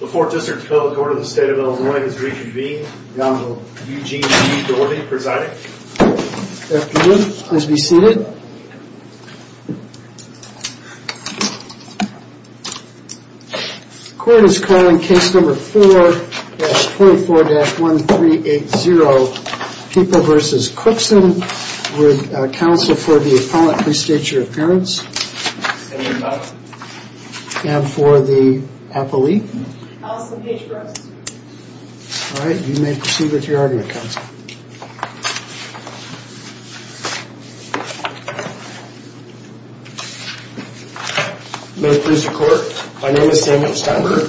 Court is calling case number 4-24-1380 Pippo v. Cookson with counsel for the appellant Please state your appearance and for the appellee. You may proceed with your argument counsel. May it please the court, my name is Samuel Steinberg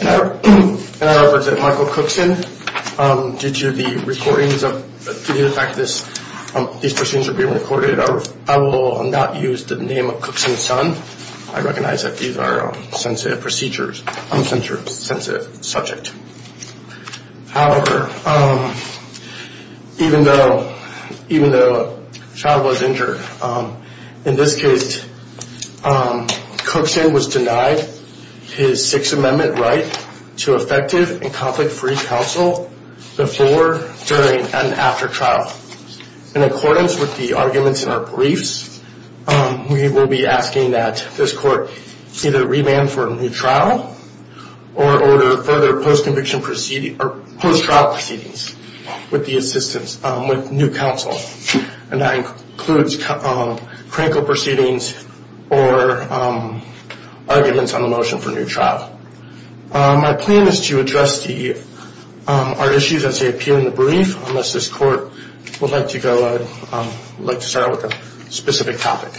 and I represent Michael Cookson due to the recordings of, due to the fact that these proceedings are being recorded I will not use the name of Cookson's son. I recognize that these are sensitive procedures, sensitive subject. However, even though, even though the child was injured, in this case Cookson was denied his Sixth Amendment right to effective and conflict free counsel before, during, and after trial. In accordance with the arguments in our briefs, we will be asking that this court either revamp for a new trial or order further post-conviction proceedings, post-trial proceedings with the assistance of new counsel. And that includes critical proceedings or arguments on the motion for new trial. My plan is to address to you our issues as they appear in the brief, unless this court would like to go, would like to start with a specific topic.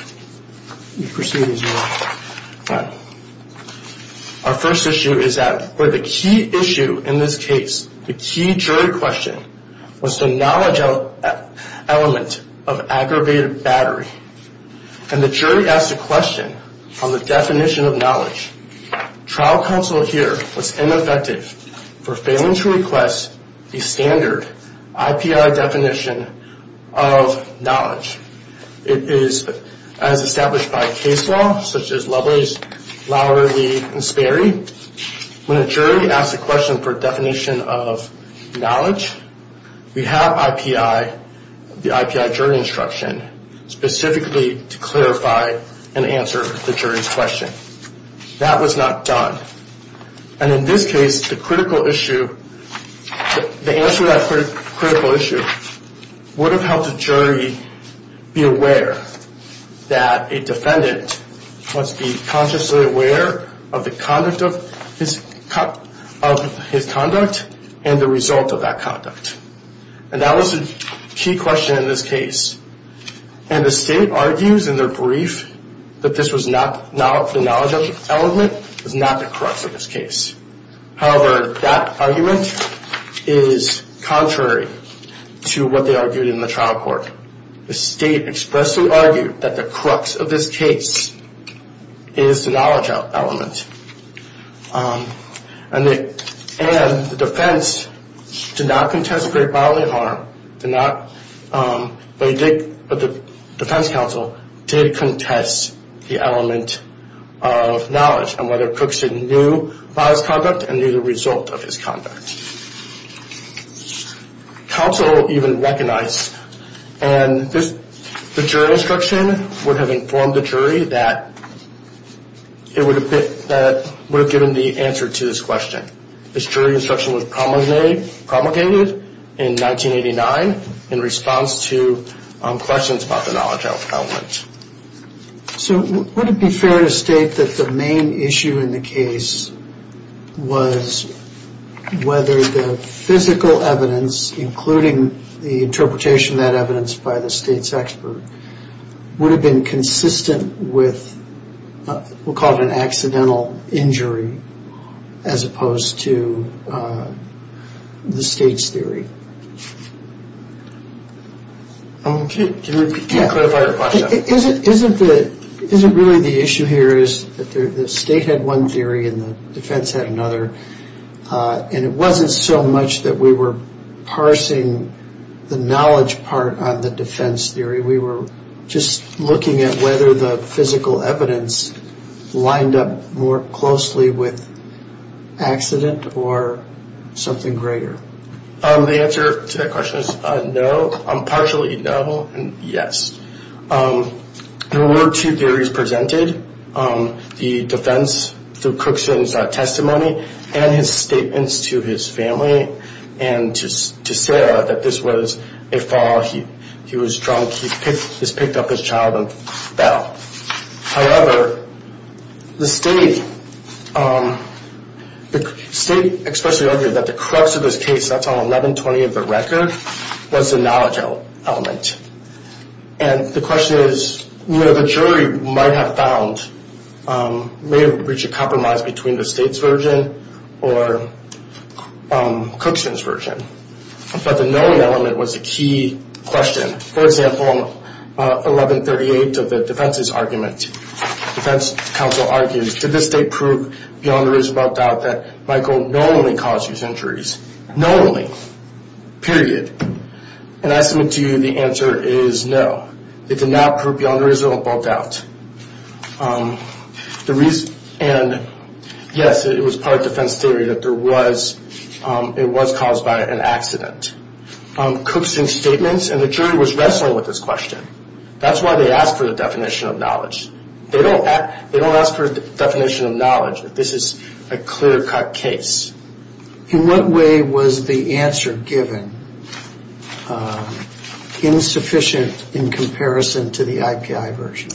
Our first issue is that the key issue in this case, the key jury question, was the knowledge element of aggravated battery. And the jury asked a question on the definition of knowledge. Trial counsel here was ineffective for failing to request a standard IPI definition of knowledge. It is, as established by case law, such as Lubbers, Lowery, and Sperry, when a jury asks a question for a definition of knowledge, we have IPI, the IPI jury instruction, specifically to clarify and answer the jury's question. That was not done. And in this case, the critical issue, the answer to that critical issue would have helped the jury be aware that a defendant must be consciously aware of the conduct of his conduct and the result of that conduct. And that was the key question in this case. And the state argues in their brief that this was not, the knowledge element was not the crux of this case. However, that argument is contrary to what they argued in the trial court. The state expressly argued that the crux of this case is the knowledge element. And the defense did not contest aggravated bodily harm, but the defense counsel did contest the element of knowledge on whether Cookson knew about his conduct and knew the result of his conduct. Counsel even recognized, and the jury instruction would have informed the jury that it would have given the answer to this question. This jury instruction was promulgated in 1989 in response to questions about the knowledge element. So would it be fair to state that the main issue in the case was whether the physical evidence, including the interpretation of that evidence by the state's expert, would have been consistent with, we'll call it an accidental injury, as opposed to the state's theory? Can you clarify your question? Isn't really the issue here is that the state had one theory and the defense had another, and it wasn't so much that we were parsing the knowledge part on the defense theory. We were just looking at whether the physical evidence lined up more closely with accident or something greater. The answer to that question is no, partially no and yes. There were two theories presented, the defense through Cookson's testimony and his statements to his family and to Sarah that this was a fall, he was drunk, he picked up his child and fell. However, the state expressly argued that the crux of this case, that's on 1120 of the record, was the knowledge element. And the question is, you know, the jury might have found, may have reached a compromise between the state's version or Cookson's version. But the knowing element was a key question. For example, 1138 of the defense's argument, defense counsel argues, did the state prove beyond a reasonable doubt that Michael not only caused these injuries, not only, period. And I submit to you the answer is no, it did not prove beyond a reasonable doubt. And yes, it was part of defense theory that there was, it was caused by an accident. Cookson's statements and the jury was wrestling with this question. That's why they asked for the definition of knowledge. They don't ask for a definition of knowledge if this is a clear-cut case. In what way was the answer given insufficient in comparison to the IKI version?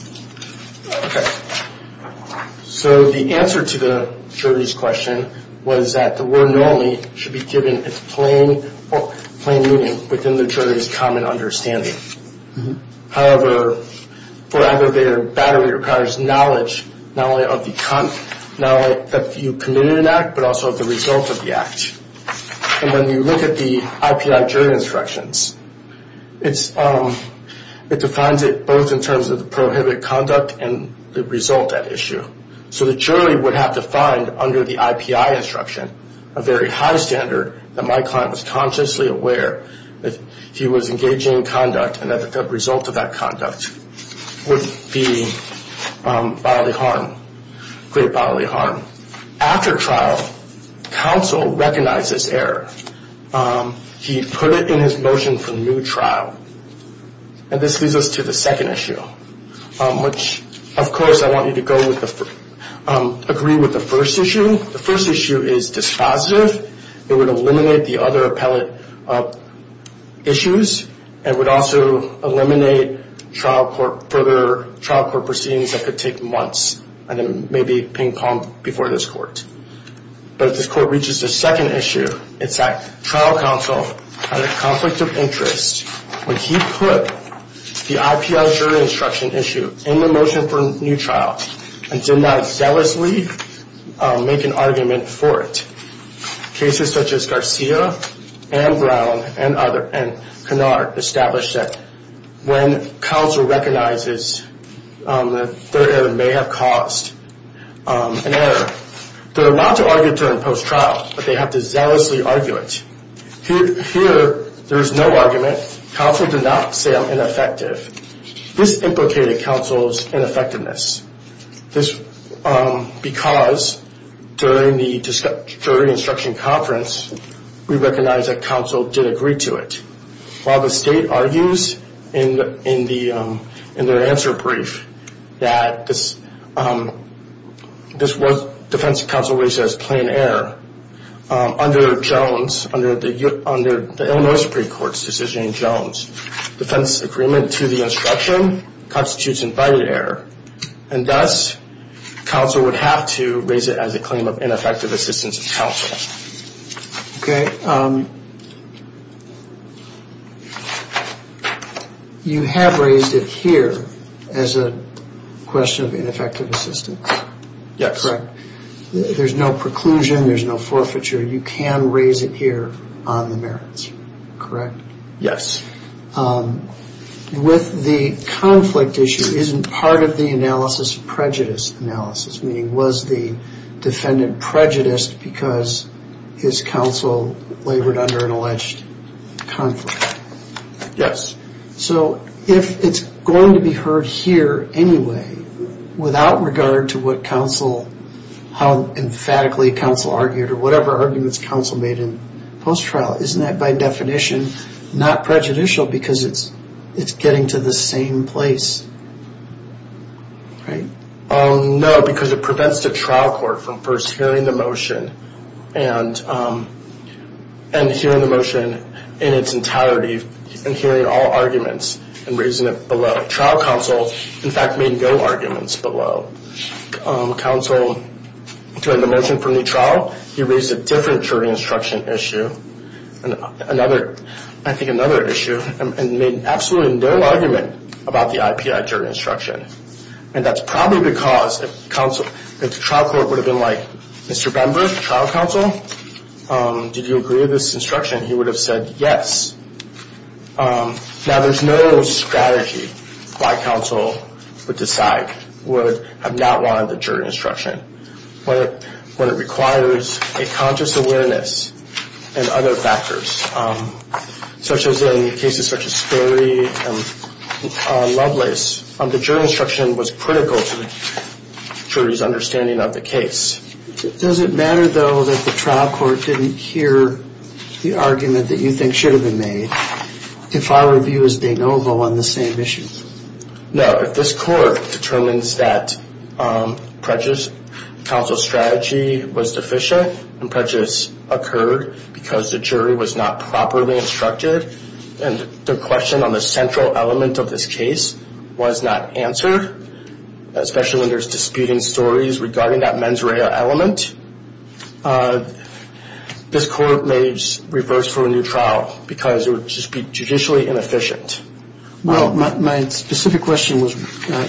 Okay. So the answer to the jury's question was that the word normally should be given in plain meaning within the jury's common understanding. However, for aggravated battery requires knowledge, not only of the, not only that you committed an act, but also of the result of the act. And when you look at the IPI jury instructions, it defines it both in terms of the prohibited conduct and the result at issue. So the jury would have to find under the IPI instruction a very high standard that my client was consciously aware that he was engaging in conduct and that the result of that conduct would be bodily harm, great bodily harm. After trial, counsel recognized this error. He put it in his motion for new trial. And this leads us to the second issue, which, of course, I want you to agree with the first issue. The first issue is dispositive. It would eliminate the other appellate issues and would also eliminate further trial court proceedings that could take months and then maybe ping-pong before this court. But if this court reaches the second issue, it's that trial counsel had a conflict of interest when he put the IPI jury instruction issue in the motion for new trial and did not zealously make an argument for it. Cases such as Garcia and Brown and Canard established that when counsel recognizes that their error may have caused an error, they're allowed to argue it during post-trial, but they have to zealously argue it. Here, there is no argument. Counsel did not say I'm ineffective. This implicated counsel's ineffectiveness because during the jury instruction conference, we recognized that counsel did agree to it. While the state argues in their answer brief that this defense of counsel raises plain error, under Jones, under the Illinois Supreme Court's decision in Jones, defense agreement to the instruction constitutes invited error, and thus counsel would have to raise it as a claim of ineffective assistance of counsel. Okay. You have raised it here as a question of ineffective assistance? Yes. Correct. There's no preclusion. There's no forfeiture. You can raise it here on the merits, correct? Yes. With the conflict issue, isn't part of the analysis prejudice analysis, meaning was the defendant prejudiced because his counsel labored under an alleged conflict? Yes. So if it's going to be heard here anyway, without regard to what counsel, how emphatically counsel argued or whatever arguments counsel made in post-trial, isn't that by definition not prejudicial because it's getting to the same place, right? No, because it prevents the trial court from first hearing the motion and hearing the motion in its entirety and hearing all arguments and raising it below. Trial counsel, in fact, made no arguments below. Counsel, during the motion for new trial, he raised a different jury instruction issue, I think another issue, and made absolutely no argument about the IPI jury instruction. And that's probably because the trial court would have been like, Mr. Bember, trial counsel, did you agree with this instruction? He would have said yes. Now, there's no strategy why counsel would decide, would have not wanted the jury instruction, when it requires a conscious awareness and other factors, such as in cases such as Sperry and Lovelace. The jury instruction was critical to the jury's understanding of the case. Does it matter, though, that the trial court didn't hear the argument that you think should have been made, if our review is de novo on the same issue? No. If this court determines that prejudice counsel strategy was deficient and prejudice occurred because the jury was not properly instructed and the question on the central element of this case was not answered, especially when there's disputing stories regarding that mens rea element, this court may reverse for a new trial because it would just be judicially inefficient. My specific question was, and I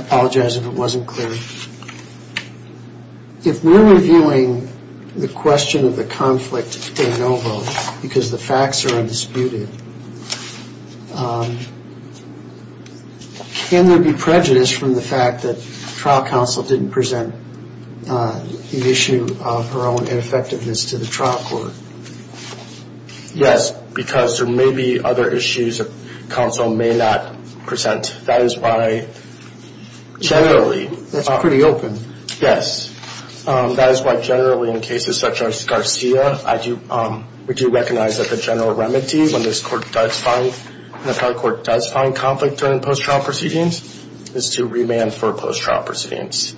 apologize if it wasn't clear, if we're reviewing the question of the conflict de novo because the facts are undisputed, can there be prejudice from the fact that trial counsel didn't present the issue of her own ineffectiveness to the trial court? Yes, because there may be other issues that counsel may not present. That is why generally in cases such as Garcia, we do recognize that the general remedy when the trial court does find conflict during post-trial proceedings is to remand for post-trial proceedings.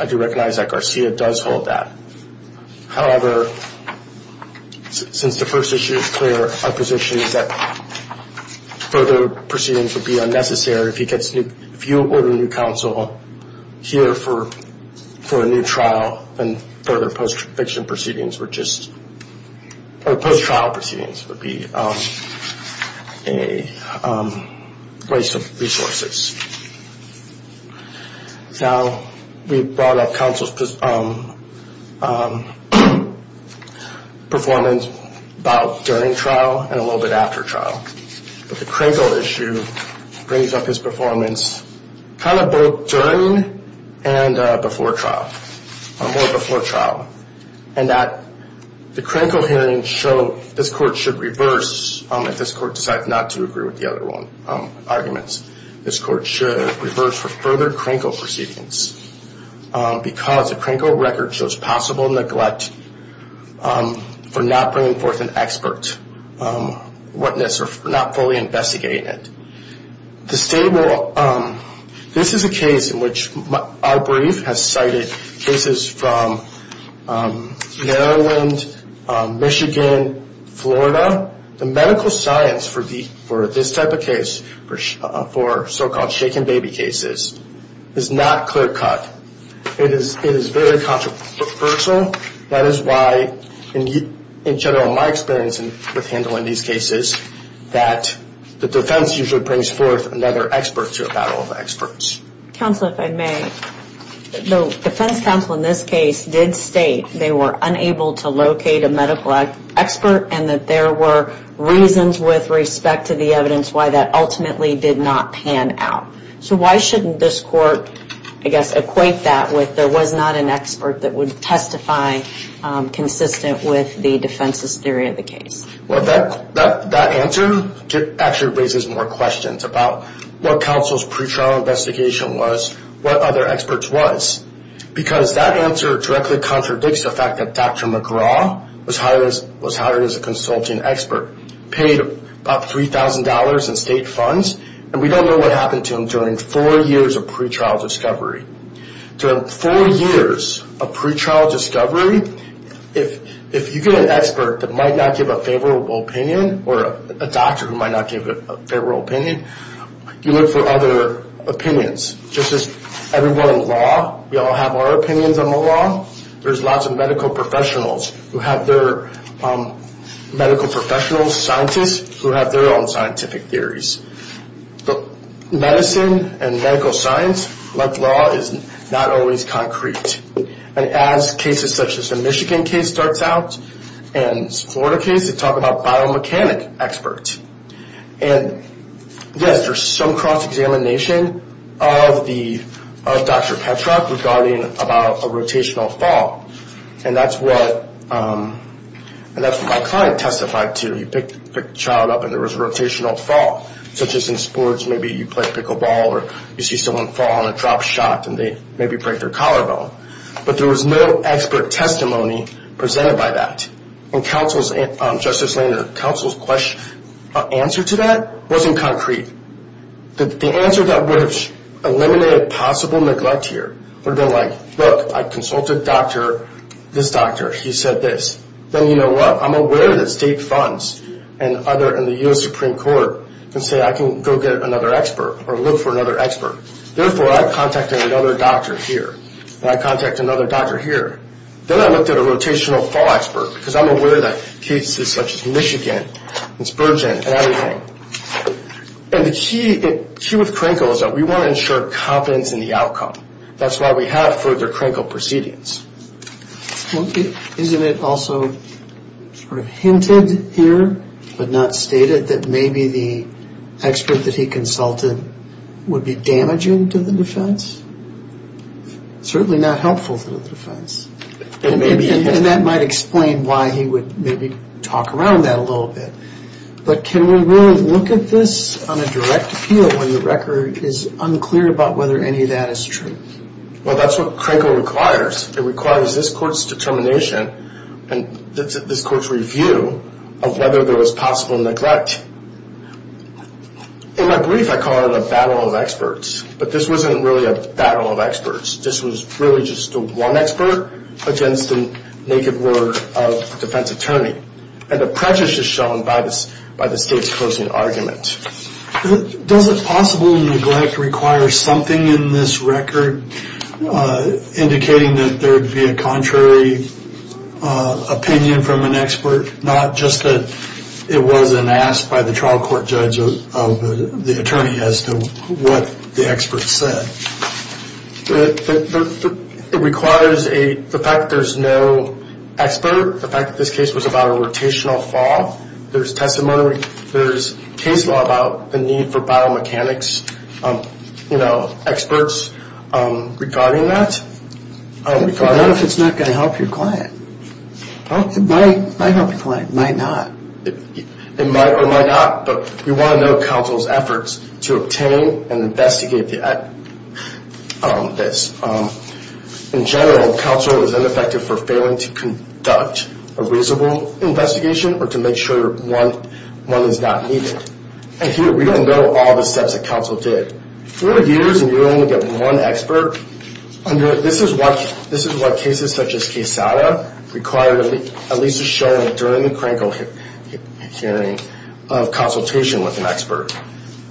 I do recognize that Garcia does hold that. However, since the first issue is clear, our position is that further proceedings would be unnecessary. If you order a new counsel here for a new trial, then further post-trial proceedings would be a waste of resources. Now, we brought up counsel's performance about during trial and a little bit after trial. But the Krenko issue brings up his performance kind of both during and before trial, or before trial. And the Krenko hearings show this court should reverse if this court decides not to agree with the other one's arguments. This court should reverse for further Krenko proceedings because the Krenko record shows possible neglect for not bringing forth an expert witness or not fully investigating it. This is a case in which our brief has cited cases from Maryland, Michigan, Florida. The medical science for this type of case, for so-called shaken baby cases, is not clear cut. It is very controversial. That is why, in general, in my experience with handling these cases, that the defense usually brings forth another expert to a battle of experts. Counsel, if I may, the defense counsel in this case did state they were unable to locate a medical expert and that there were reasons with respect to the evidence why that ultimately did not pan out. So why shouldn't this court, I guess, equate that with there was not an expert that would testify consistent with the defense's theory of the case? Well, that answer actually raises more questions about what counsel's pre-trial investigation was, what other experts was. Because that answer directly contradicts the fact that Dr. McGraw was hired as a consulting expert, paid about $3,000 in state funds, and we don't know what happened to him during four years of pre-trial discovery. During four years of pre-trial discovery, if you get an expert that might not give a favorable opinion or a doctor who might not give a favorable opinion, you look for other opinions. Just as everyone in law, we all have our opinions on the law. There's lots of medical professionals who have their, medical professionals, scientists, who have their own scientific theories. But medicine and medical science, like law, is not always concrete. And as cases such as the Michigan case starts out and the Florida case, they talk about biomechanic experts. And yes, there's some cross-examination of Dr. Petrak regarding about a rotational fall. And that's what my client testified to. He picked the child up and there was a rotational fall. So just in sports, maybe you play pickleball or you see someone fall on a drop shot and they maybe break their collarbone. But there was no expert testimony presented by that. And Justice Laner, counsel's answer to that wasn't concrete. The answer that would have eliminated possible neglect here would have been like, look, I consulted this doctor. He said this. Then you know what? I'm aware that state funds and the U.S. Supreme Court can say I can go get another expert or look for another expert. Therefore, I contacted another doctor here and I contacted another doctor here. Then I looked at a rotational fall expert because I'm aware that cases such as Michigan and Spurgeon and everything. And the key with CRANCO is that we want to ensure confidence in the outcome. That's why we have further CRANCO proceedings. Isn't it also sort of hinted here but not stated that maybe the expert that he consulted would be damaging to the defense? Certainly not helpful to the defense. And that might explain why he would maybe talk around that a little bit. But can we really look at this on a direct appeal when the record is unclear about whether any of that is true? Well, that's what CRANCO requires. It requires this court's determination and this court's review of whether there was possible neglect. In my brief, I call it a battle of experts. But this wasn't really a battle of experts. This was really just one expert against the naked word of a defense attorney. And the prejudice is shown by the state's closing argument. Does it possible neglect require something in this record indicating that there would be a contrary opinion from an expert? Not just that it wasn't asked by the trial court judge of the attorney as to what the expert said. It requires the fact that there's no expert, the fact that this case was about a rotational fall. There's testimony. There's case law about the need for biomechanics experts regarding that. What if it's not going to help your client? It might help your client. It might not. It might or might not. But you want to know counsel's efforts to obtain and investigate this. In general, counsel is ineffective for failing to conduct a reasonable investigation or to make sure one is not needed. And here we don't know all the steps that counsel did. Four years and you only get one expert? This is what cases such as Quesada required at least to show during the Kranko hearing of consultation with an expert.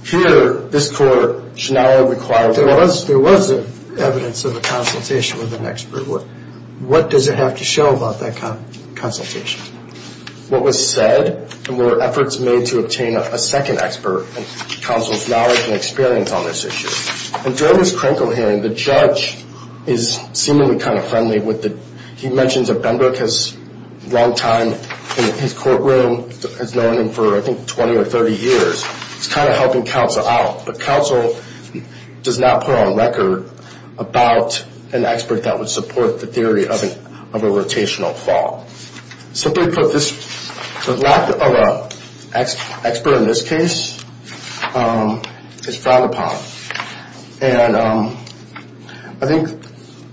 Here, this court should not have required. There was evidence of a consultation with an expert. What does it have to show about that consultation? What was said were efforts made to obtain a second expert and counsel's knowledge and experience on this issue. And during this Kranko hearing, the judge is seemingly kind of friendly. He mentions that Benbrook has a long time in his courtroom, has known him for, I think, 20 or 30 years. He's kind of helping counsel out. But counsel does not put on record about an expert that would support the theory of a rotational fault. Simply put, the lack of an expert in this case is frowned upon. And I think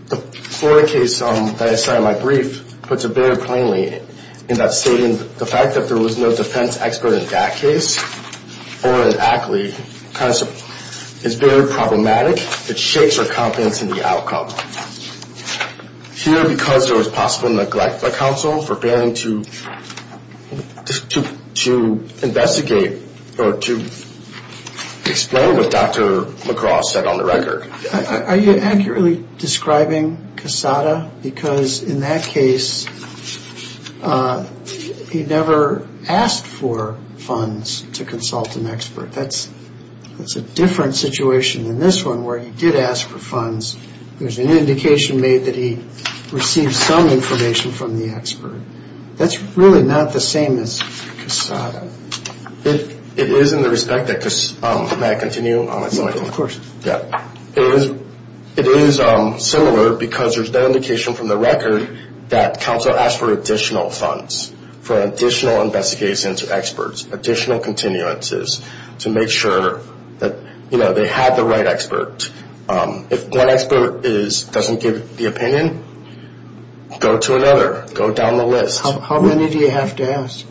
the Florida case that I cited in my brief puts it very plainly in that statement. The fact that there was no defense expert in that case or an athlete is very problematic. It shakes our confidence in the outcome. Here, because there was possible neglect by counsel for failing to investigate or to explain what Dr. McGraw said on the record. Are you accurately describing Cassata? Because in that case, he never asked for funds to consult an expert. That's a different situation than this one where he did ask for funds. There's an indication made that he received some information from the expert. That's really not the same as Cassata. It is in the respect that, may I continue? No, of course. It is similar because there's that indication from the record that counsel asked for additional funds, for additional investigations of experts, additional continuances to make sure that they had the right expert. If one expert doesn't give the opinion, go to another. Go down the list. How many do you have to ask?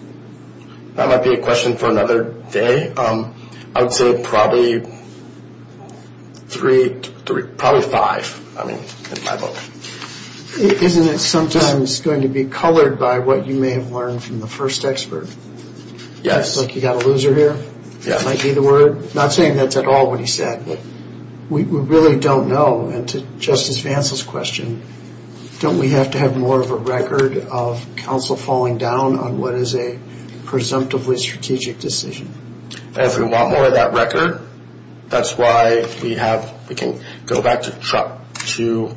That might be a question for another day. I would say probably three, probably five in my book. Isn't it sometimes going to be colored by what you may have learned from the first expert? Yes. Like you've got a loser here? Yes. That might be the word. I'm not saying that's at all what he said. We really don't know, and to Justice Vance's question, don't we have to have more of a record of counsel falling down on what is a presumptively strategic decision? If we want more of that record, that's why we can go back to further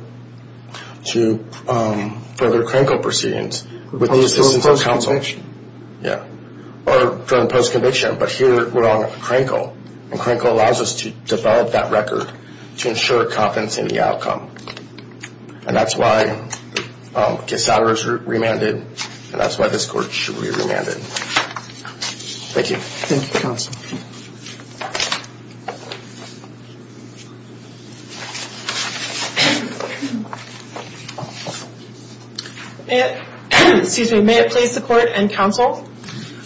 CRANCO proceedings. For post-conviction? Yes. Or during post-conviction, but here we're on CRANCO, and CRANCO allows us to develop that record to ensure confidence in the outcome. And that's why Cassata was remanded, and that's why this court should be remanded. Thank you. Thank you, counsel. May it please the Court and counsel,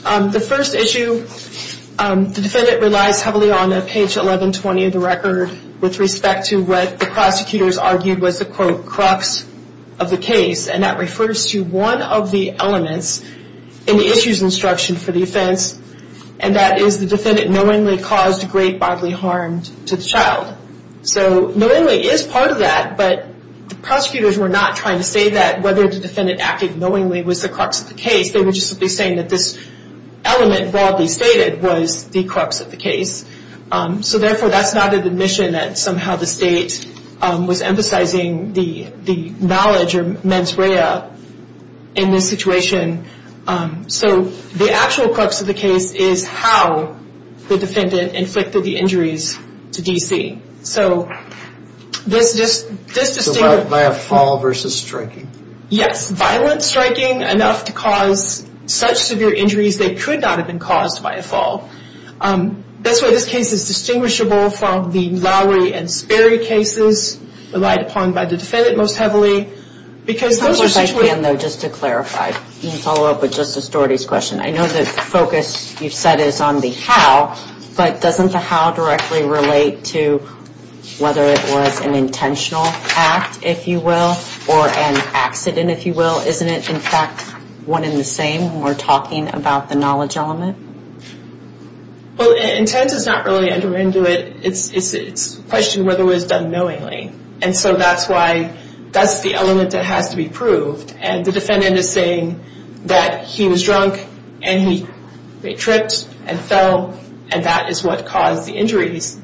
the first issue, the defendant relies heavily on page 1120 of the record with respect to what the prosecutors argued was the, quote, crux of the case, and that refers to one of the elements in the issues instruction for the offense, and that is the defendant knowingly caused great bodily harm to the child. So knowingly is part of that, but the prosecutors were not trying to say that whether the defendant acted knowingly was the crux of the case. They were just simply saying that this element broadly stated was the crux of the case. So therefore, that's not an admission that somehow the state was emphasizing the knowledge or mens rea in this situation. So the actual crux of the case is how the defendant inflicted the injuries to DC. So this distinctive... By a fall versus striking. Yes, violent striking enough to cause such severe injuries they could not have been caused by a fall. That's why this case is distinguishable from the Lowry and Sperry cases relied upon by the defendant most heavily, because those are situations... I wish I could, though, just to clarify. You can follow up with Justice Dougherty's question. I know the focus you've set is on the how, but doesn't the how directly relate to whether it was an intentional act, if you will, or an accident, if you will? Well, isn't it, in fact, one and the same when we're talking about the knowledge element? Well, intent is not really under into it. It's a question of whether it was done knowingly. And so that's why that's the element that has to be proved. And the defendant is saying that he was drunk and he tripped and fell, and that is what caused the injuries.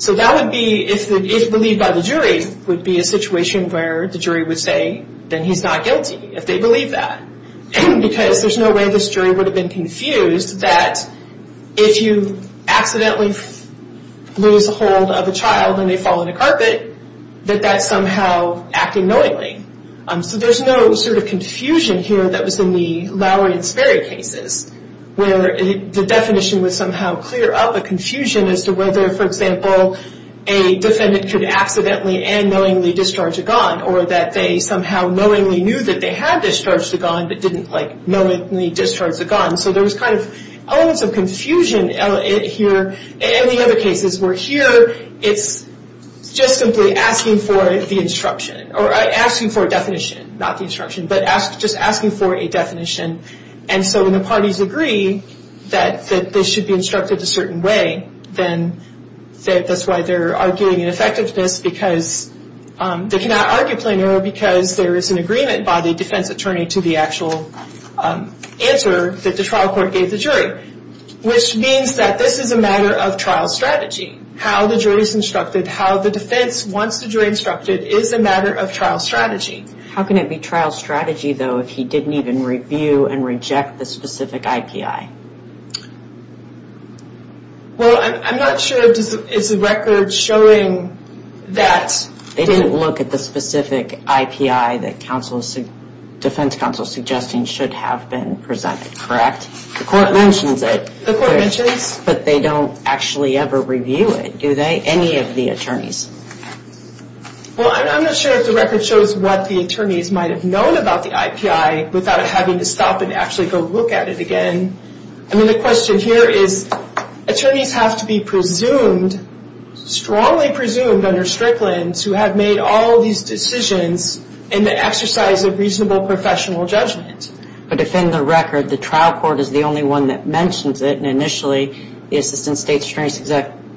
So that would be, if believed by the jury, would be a situation where the jury would say, then he's not guilty if they believe that, because there's no way this jury would have been confused that if you accidentally lose hold of a child and they fall on the carpet, that that's somehow acting knowingly. So there's no sort of confusion here that was in the Lowry and Sperry cases, where the definition would somehow clear up a confusion as to whether, for example, a defendant could accidentally and knowingly discharge a gun, or that they somehow knowingly knew that they had discharged a gun but didn't, like, knowingly discharge a gun. So there was kind of elements of confusion here in the other cases, where here it's just simply asking for the instruction, or asking for a definition, not the instruction, but just asking for a definition. And so when the parties agree that this should be instructed a certain way, then that's why they're arguing in effectiveness because they cannot argue plain error because there is an agreement by the defense attorney to the actual answer that the trial court gave the jury, which means that this is a matter of trial strategy. How the jury is instructed, how the defense wants the jury instructed is a matter of trial strategy. How can it be trial strategy, though, if he didn't even review and reject the specific IPI? Well, I'm not sure if it's a record showing that. They didn't look at the specific IPI that defense counsel is suggesting should have been presented, correct? The court mentions it. The court mentions. But they don't actually ever review it, do they? Any of the attorneys. Well, I'm not sure if the record shows what the attorneys might have known about the IPI without having to stop and actually go look at it again. I mean, the question here is attorneys have to be presumed, strongly presumed under Strickland to have made all these decisions in the exercise of reasonable professional judgment. But if in the record the trial court is the only one that mentions it, and initially the assistant state attorney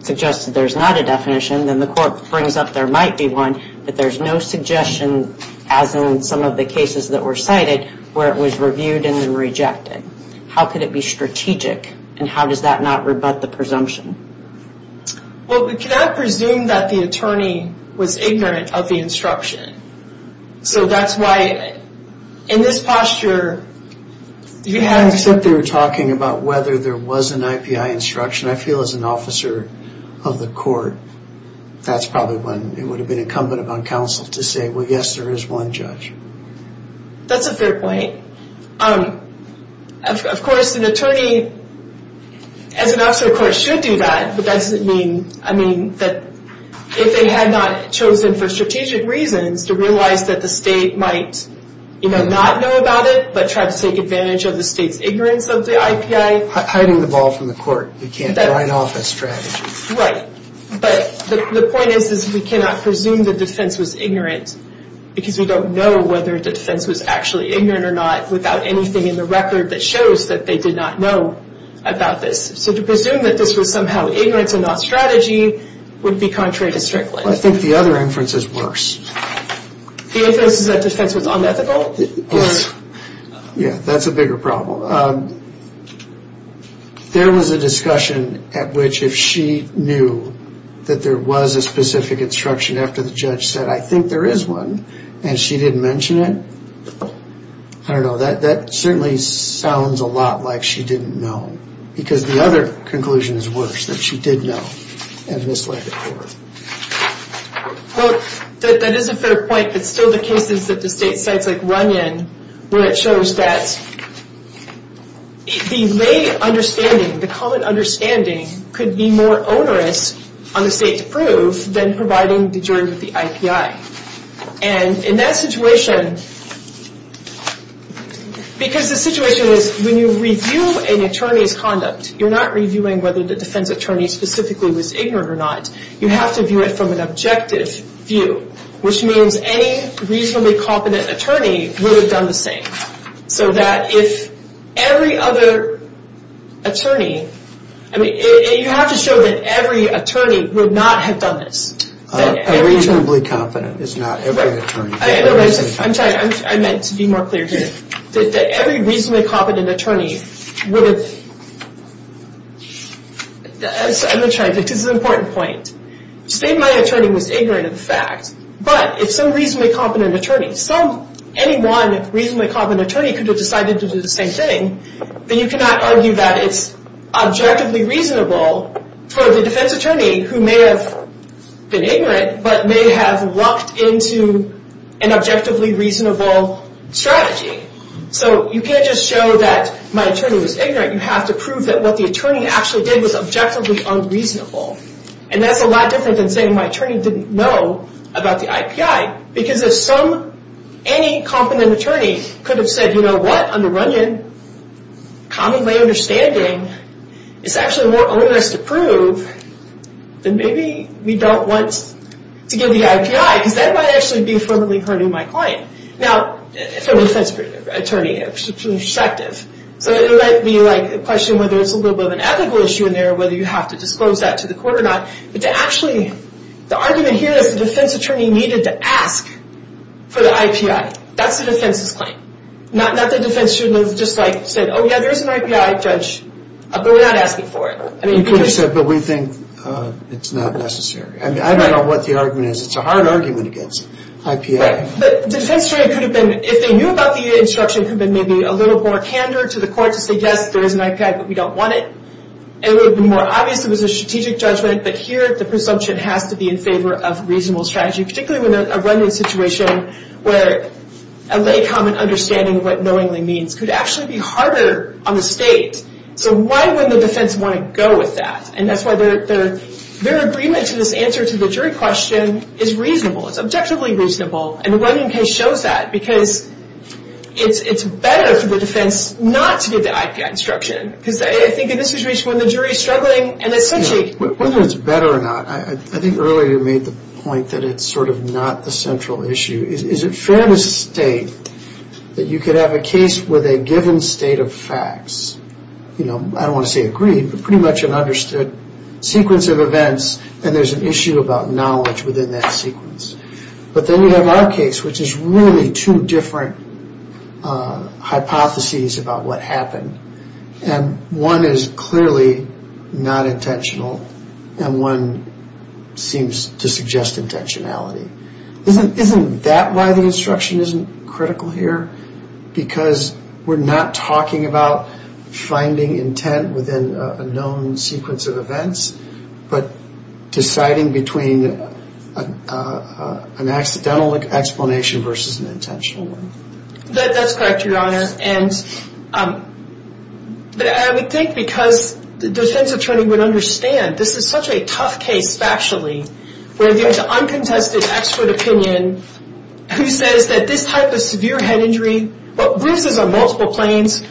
suggested there's not a definition, then the court brings up there might be one. But there's no suggestion, as in some of the cases that were cited, where it was reviewed and then rejected. How could it be strategic, and how does that not rebut the presumption? Well, we cannot presume that the attorney was ignorant of the instruction. So that's why, in this posture, you have to. Except they were talking about whether there was an IPI instruction. I feel as an officer of the court, that's probably when it would have been incumbent upon counsel to say, well, yes, there is one judge. That's a fair point. Of course, an attorney, as an officer of the court, should do that. But that doesn't mean that if they had not chosen for strategic reasons to realize that the state might not know about it but try to take advantage of the state's ignorance of the IPI. Hiding the ball from the court. You can't write off a strategy. Right. But the point is we cannot presume the defense was ignorant because we don't know whether the defense was actually ignorant or not without anything in the record that shows that they did not know about this. So to presume that this was somehow ignorance and not strategy would be contrary to Strickland. I think the other inference is worse. The inference is that defense was unethical? Yeah, that's a bigger problem. There was a discussion at which if she knew that there was a specific instruction after the judge said, I think there is one, and she didn't mention it, I don't know, that certainly sounds a lot like she didn't know because the other conclusion is worse, that she did know and misled the court. Well, that is a fair point. It's still the cases that the state sites run in where it shows that the lay understanding, the common understanding, could be more onerous on the state to prove than providing the jury with the IPI. And in that situation, because the situation is when you review an attorney's conduct, you're not reviewing whether the defense attorney specifically was ignorant or not. You have to view it from an objective view, which means any reasonably competent attorney would have done the same. So that if every other attorney, I mean, you have to show that every attorney would not have done this. A reasonably competent is not every attorney. I'm sorry, I meant to be more clear here. That every reasonably competent attorney would have, I'm sorry, this is an important point. State my attorney was ignorant of the fact, but if some reasonably competent attorney, any one reasonably competent attorney could have decided to do the same thing, then you cannot argue that it's objectively reasonable for the defense attorney who may have been ignorant, but may have lucked into an objectively reasonable strategy. So you can't just show that my attorney was ignorant. You have to prove that what the attorney actually did was objectively unreasonable. And that's a lot different than saying my attorney didn't know about the IPI. Because if any competent attorney could have said, you know what, on the run-in, commonly my understanding, it's actually more onerous to prove, then maybe we don't want to give the IPI, because that might actually be affirmatively hurting my client. Now, from a defense attorney perspective, so it might be a question whether it's a little bit of an ethical issue in there, whether you have to disclose that to the court or not, but to actually, the argument here is the defense attorney needed to ask for the IPI. That's the defense's claim. Not that the defense shouldn't have just said, oh yeah, there's an IPI, judge, but we're not asking for it. You could have said, but we think it's not necessary. I don't know what the argument is. It's a hard argument against IPI. But the defense attorney could have been, if they knew about the instruction, could have been maybe a little more candor to the court to say, yes, there is an IPI, but we don't want it. It would have been more obvious it was a strategic judgment, but here the presumption has to be in favor of reasonable strategy, particularly in a run-in situation where a lay common understanding of what knowingly means could actually be harder on the state. So why would the defense want to go with that? And that's why their agreement to this answer to the jury question is reasonable. It's objectively reasonable, and the run-in case shows that, because it's better for the defense not to give the IPI instruction. Because I think in this situation when the jury is struggling and it's such a... Whether it's better or not, I think earlier you made the point that it's sort of not the central issue. Is it fair to state that you could have a case with a given state of facts, I don't want to say agreed, but pretty much an understood sequence of events, and there's an issue about knowledge within that sequence. But then you have our case, which is really two different hypotheses about what happened. And one is clearly not intentional, and one seems to suggest intentionality. Isn't that why the instruction isn't critical here? Because we're not talking about finding intent within a known sequence of events, but deciding between an accidental explanation versus an intentional one. That's correct, Your Honor. I would think because the defense attorney would understand, this is such a tough case factually, where there's uncontested expert opinion, who says that this type of severe head injury, bruises on multiple planes,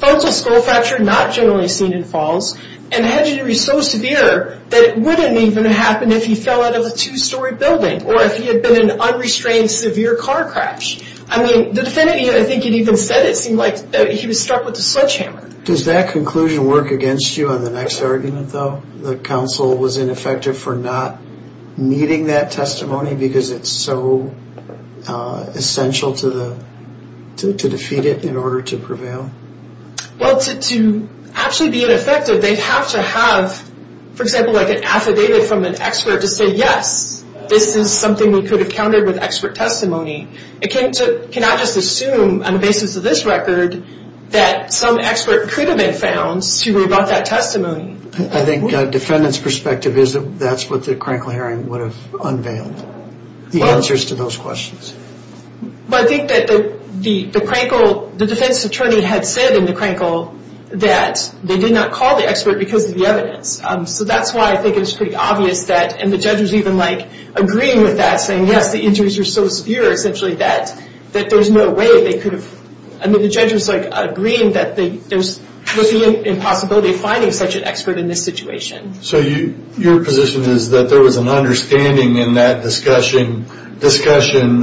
frontal skull fracture not generally seen in falls, and head injury so severe that it wouldn't even happen if he fell out of a two-story building, or if he had been in an unrestrained severe car crash. I mean, the defendant, I think he'd even said it, seemed like he was struck with a sledgehammer. Does that conclusion work against you on the next argument, though? The counsel was ineffective for not meeting that testimony because it's so essential to defeat it in order to prevail? Well, to actually be ineffective, they have to have, for example, like an affidavit from an expert to say, yes, this is something we could have countered with expert testimony. It came to, can I just assume on the basis of this record, that some expert could have been found to have brought that testimony? I think the defendant's perspective is that that's what the Crankle hearing would have unveiled, the answers to those questions. But I think that the Crankle, the defense attorney had said in the Crankle that they did not call the expert because of the evidence. So that's why I think it's pretty obvious that, and the judge was even agreeing with that, saying, yes, the injuries are so severe, essentially, that there's no way they could have, I mean, the judge was agreeing that there's no possibility of finding such an expert in this situation. So your position is that there was an understanding in that discussion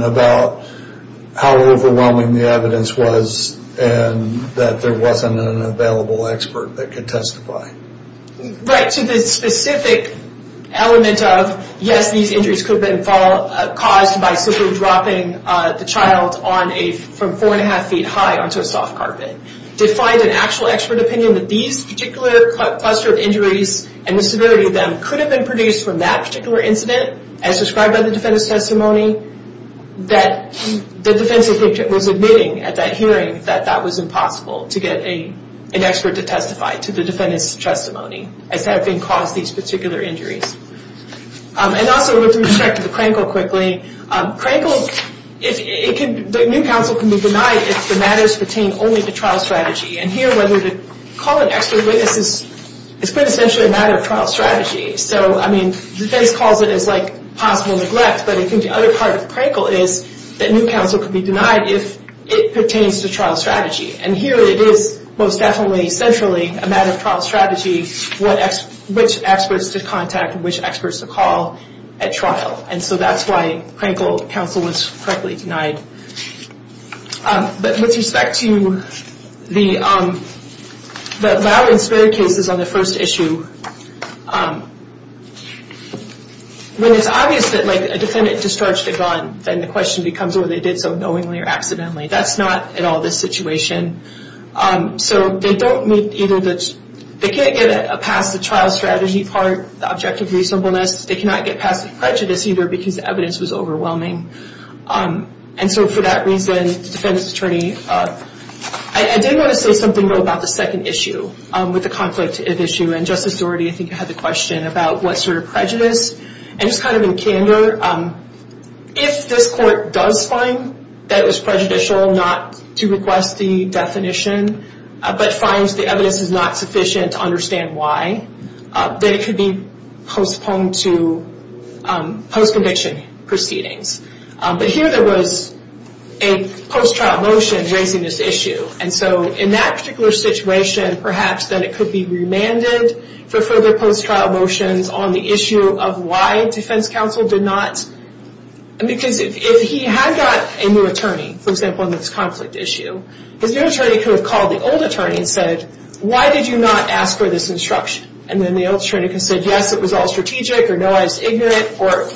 about how overwhelming the evidence was and that there wasn't an available expert that could testify? Right, to the specific element of, yes, these injuries could have been caused by simply dropping the child from four and a half feet high onto a soft carpet. To find an actual expert opinion that these particular cluster of injuries and the severity of them could have been produced from that particular incident, as described by the defendant's testimony, that the defense attorney was admitting at that hearing that that was impossible to get an expert to testify to the defendant's testimony as to having caused these particular injuries. And also, with respect to the Crankle, quickly, Crankle, the new counsel can be denied if the matters pertain only to trial strategy. And here, whether to call an expert witness is quintessentially a matter of trial strategy. So, I mean, the defense calls it as, like, possible neglect, but I think the other part of the Crankle is that new counsel can be denied if it pertains to trial strategy. And here it is, most definitely, centrally, a matter of trial strategy which experts to contact, which experts to call at trial. And so that's why Crankle counsel was correctly denied. But with respect to the Lauer and Sperry cases on the first issue, when it's obvious that, like, a defendant discharged a gun, then the question becomes whether they did so knowingly or accidentally. That's not at all this situation. So they don't meet either the – they can't get past the trial strategy part, the objective reasonableness. They cannot get past the prejudice either because the evidence was overwhelming. And so for that reason, the defendant's attorney – I did want to say something, though, about the second issue with the conflict issue. And Justice Doherty, I think, had the question about what sort of prejudice. And just kind of in candor, if this court does find that it was prejudicial not to request the definition, but finds the evidence is not sufficient to understand why, then it could be postponed to post-conviction proceedings. But here there was a post-trial motion raising this issue. And so in that particular situation, perhaps then it could be remanded for further post-trial motions on the issue of why defense counsel did not – because if he had got a new attorney, for example, in this conflict issue, his new attorney could have called the old attorney and said, why did you not ask for this instruction? And then the old attorney could have said, yes, it was all strategic, or no, I was ignorant, or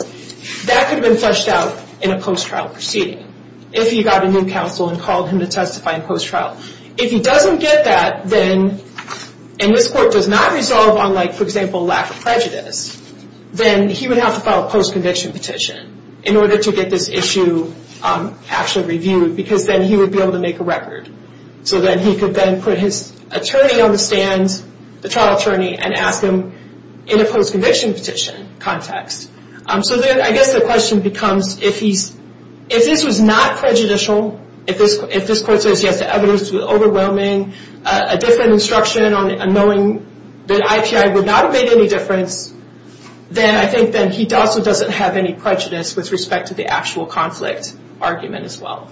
that could have been fleshed out in a post-trial proceeding if he got a new counsel and called him to testify in post-trial. If he doesn't get that, then, and this court does not resolve on, for example, lack of prejudice, then he would have to file a post-conviction petition in order to get this issue actually reviewed, because then he would be able to make a record. So then he could then put his attorney on the stand, the trial attorney, and ask him in a post-conviction petition context. So then I guess the question becomes, if this was not prejudicial, if this court says, yes, the evidence was overwhelming, a different instruction on knowing that IPI would not have made any difference, then I think that he also doesn't have any prejudice with respect to the actual conflict argument as well.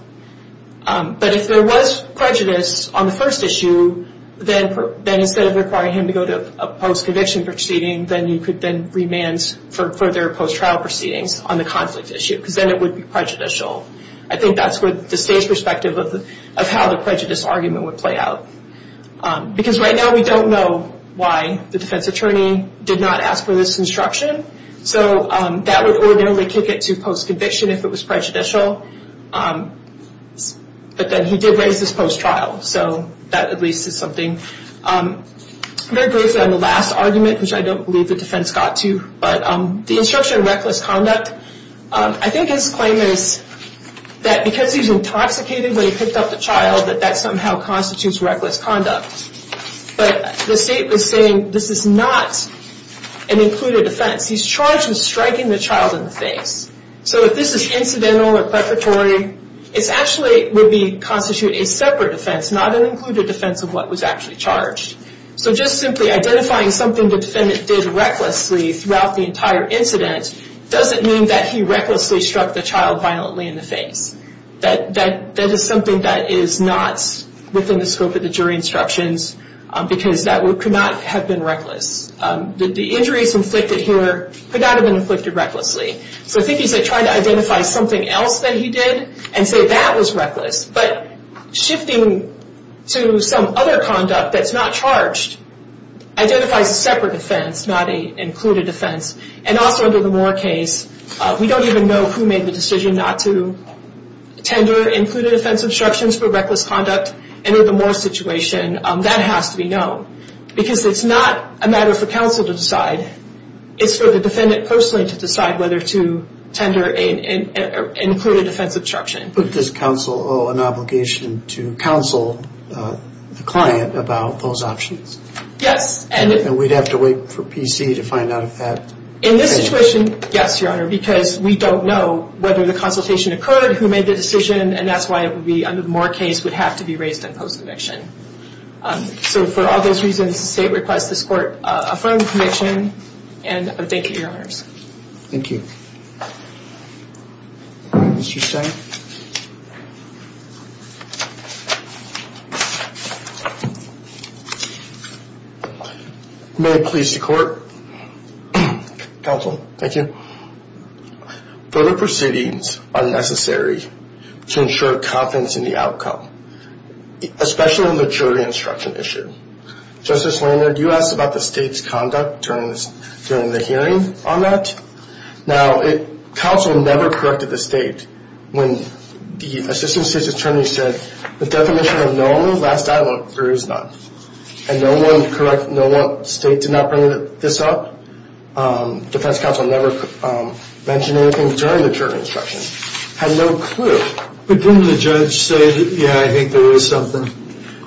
But if there was prejudice on the first issue, then instead of requiring him to go to a post-conviction proceeding, then you could then remand for further post-trial proceedings on the conflict issue, because then it would be prejudicial. I think that's what the state's perspective of how the prejudice argument would play out. Because right now we don't know why the defense attorney did not ask for this instruction, so that would ordinarily kick it to post-conviction if it was prejudicial. But then he did raise this post-trial, so that at least is something. Very briefly on the last argument, which I don't believe the defense got to, but the instruction on reckless conduct, I think his claim is that because he's intoxicated when he picked up the child, that that somehow constitutes reckless conduct. But the state was saying this is not an included offense. He's charged with striking the child in the face. So if this is incidental or preparatory, it actually would constitute a separate offense, not an included offense of what was actually charged. So just simply identifying something the defendant did recklessly throughout the entire incident doesn't mean that he recklessly struck the child violently in the face. That is something that is not within the scope of the jury instructions, because that could not have been reckless. The injuries inflicted here could not have been inflicted recklessly. So I think he's trying to identify something else that he did and say that was reckless. But shifting to some other conduct that's not charged identifies a separate offense, not an included offense. And also under the Moore case, we don't even know who made the decision not to tender included offense obstructions for reckless conduct. And in the Moore situation, that has to be known, because it's not a matter for counsel to decide. It's for the defendant personally to decide whether to tender an included offense obstruction. But does counsel owe an obligation to counsel the client about those options? Yes. And we'd have to wait for PC to find out if that... In this situation, yes, Your Honor, because we don't know whether the consultation occurred, who made the decision, and that's why it would be under the Moore case, would have to be raised in post eviction. So for all those reasons, the State requests this Court affirm the conviction. And thank you, Your Honors. Thank you. Mr. Stein. May it please the Court. Counsel. Thank you. Further proceedings are necessary to ensure confidence in the outcome, especially in the jury instruction issue. Justice Lanard, you asked about the State's conduct during the hearing on that. Now, counsel never corrected the State. When the assistant State's attorney said, the definition of no only last dialogue, there is none. And no one state did not bring this up. Defense counsel never mentioned anything during the jury instruction. Had no clue. But didn't the judge say, yeah, I think there was something?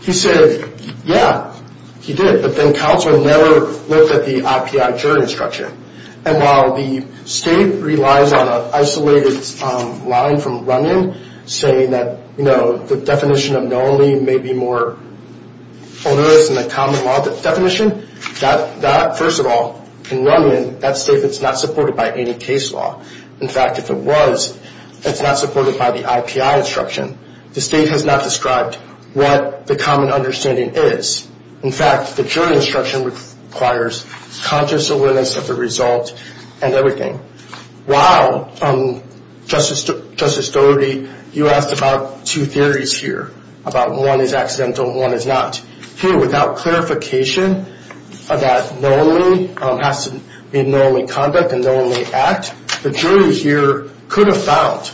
He said, yeah, he did. But then counsel never looked at the IPI jury instruction. And while the State relies on an isolated line from Runyon saying that, you know, the definition of no only may be more onerous than the common law definition, that, first of all, in Runyon, that State is not supported by any case law. In fact, if it was, it's not supported by the IPI instruction. The State has not described what the common understanding is. In fact, the jury instruction requires conscious awareness of the result and everything. While, Justice Dougherty, you asked about two theories here, about one is accidental and one is not. Here, without clarification that no only has to be no only conduct and no only act, the jury here could have found,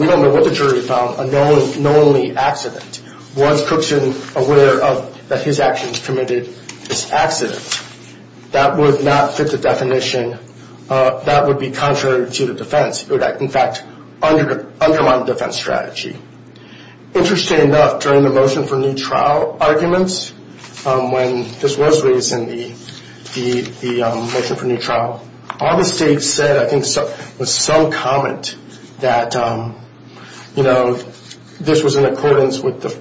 we don't know what the jury found, a no only accident. Was Cookson aware that his actions committed this accident? That would not fit the definition. That would be contrary to the defense. It would, in fact, undermine the defense strategy. Interesting enough, during the motion for new trial arguments, when this was raised in the motion for new trial, all the States said, I think, was some comment that, you know, this was in accordance with the,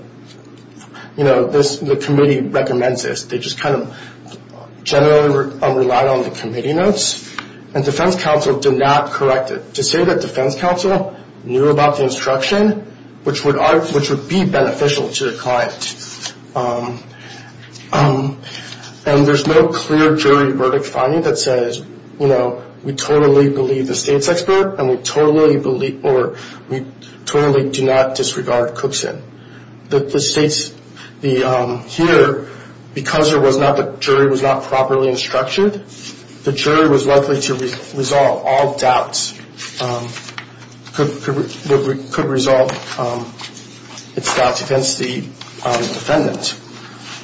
you know, the committee recommends this. They just kind of generally relied on the committee notes. And defense counsel did not correct it. To say that defense counsel knew about the instruction, which would be beneficial to the client. And there's no clear jury verdict finding that says, you know, we totally believe the State's expert and we totally do not disregard Cookson. The States here, because the jury was not properly instructed, the jury was likely to resolve all doubts, could resolve its doubts against the defendant,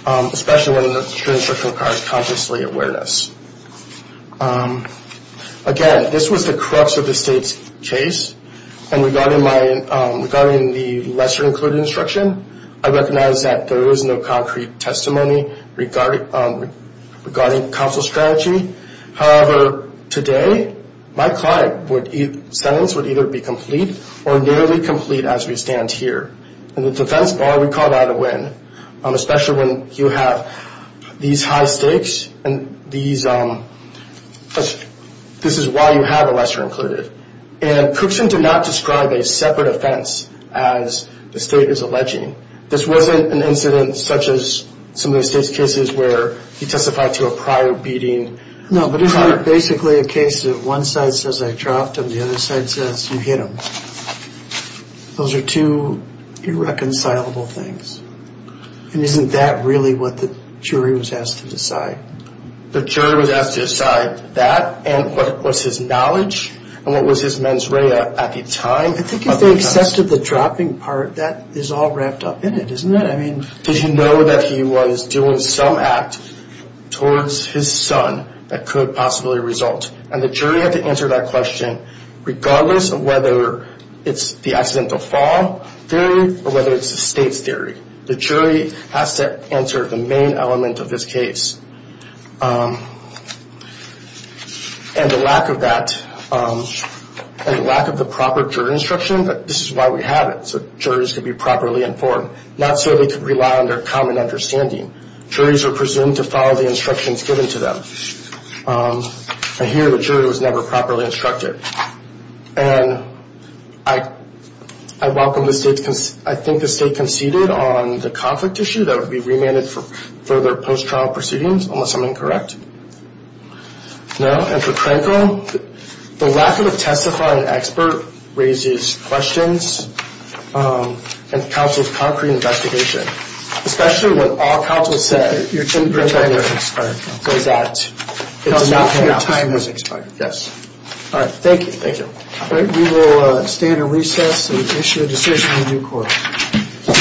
especially when an instruction requires consciously awareness. Again, this was the crux of the State's case. And regarding the lesser included instruction, I recognize that there was no concrete testimony regarding counsel's strategy. However, today, my client's sentence would either be complete or nearly complete as we stand here. In the defense bar, we call that a win, especially when you have these high stakes and these, this is why you have a lesser included. And Cookson did not describe a separate offense as the State is alleging. This wasn't an incident such as some of the State's cases where he testified to a prior beating. No, but it's basically a case that one side says I dropped him, the other side says you hit him. Those are two irreconcilable things. And isn't that really what the jury was asked to decide? The jury was asked to decide that and what was his knowledge and what was his mens rea at the time. I think if they accessed the dropping part, that is all wrapped up in it, isn't it? I mean, did you know that he was doing some act towards his son that could possibly result? And the jury had to answer that question, regardless of whether it's the accidental fall theory or whether it's the State's theory. The jury has to answer the main element of this case. And the lack of that, the lack of the proper jury instruction, this is why we have it, so juries can be properly informed. Not so they can rely on their common understanding. Juries are presumed to follow the instructions given to them. I hear the jury was never properly instructed. And I welcome the State's, I think the State conceded on the conflict issue that would be remanded for further post-trial proceedings, unless I'm incorrect. No, and for Cranko, the lack of a testifying expert raises questions of counsel's concrete investigation, especially when all counsel said your time has expired. So is that, it's enough that your time has expired? All right, thank you. Thank you. All right, we will stand and recess and issue a decision in due course.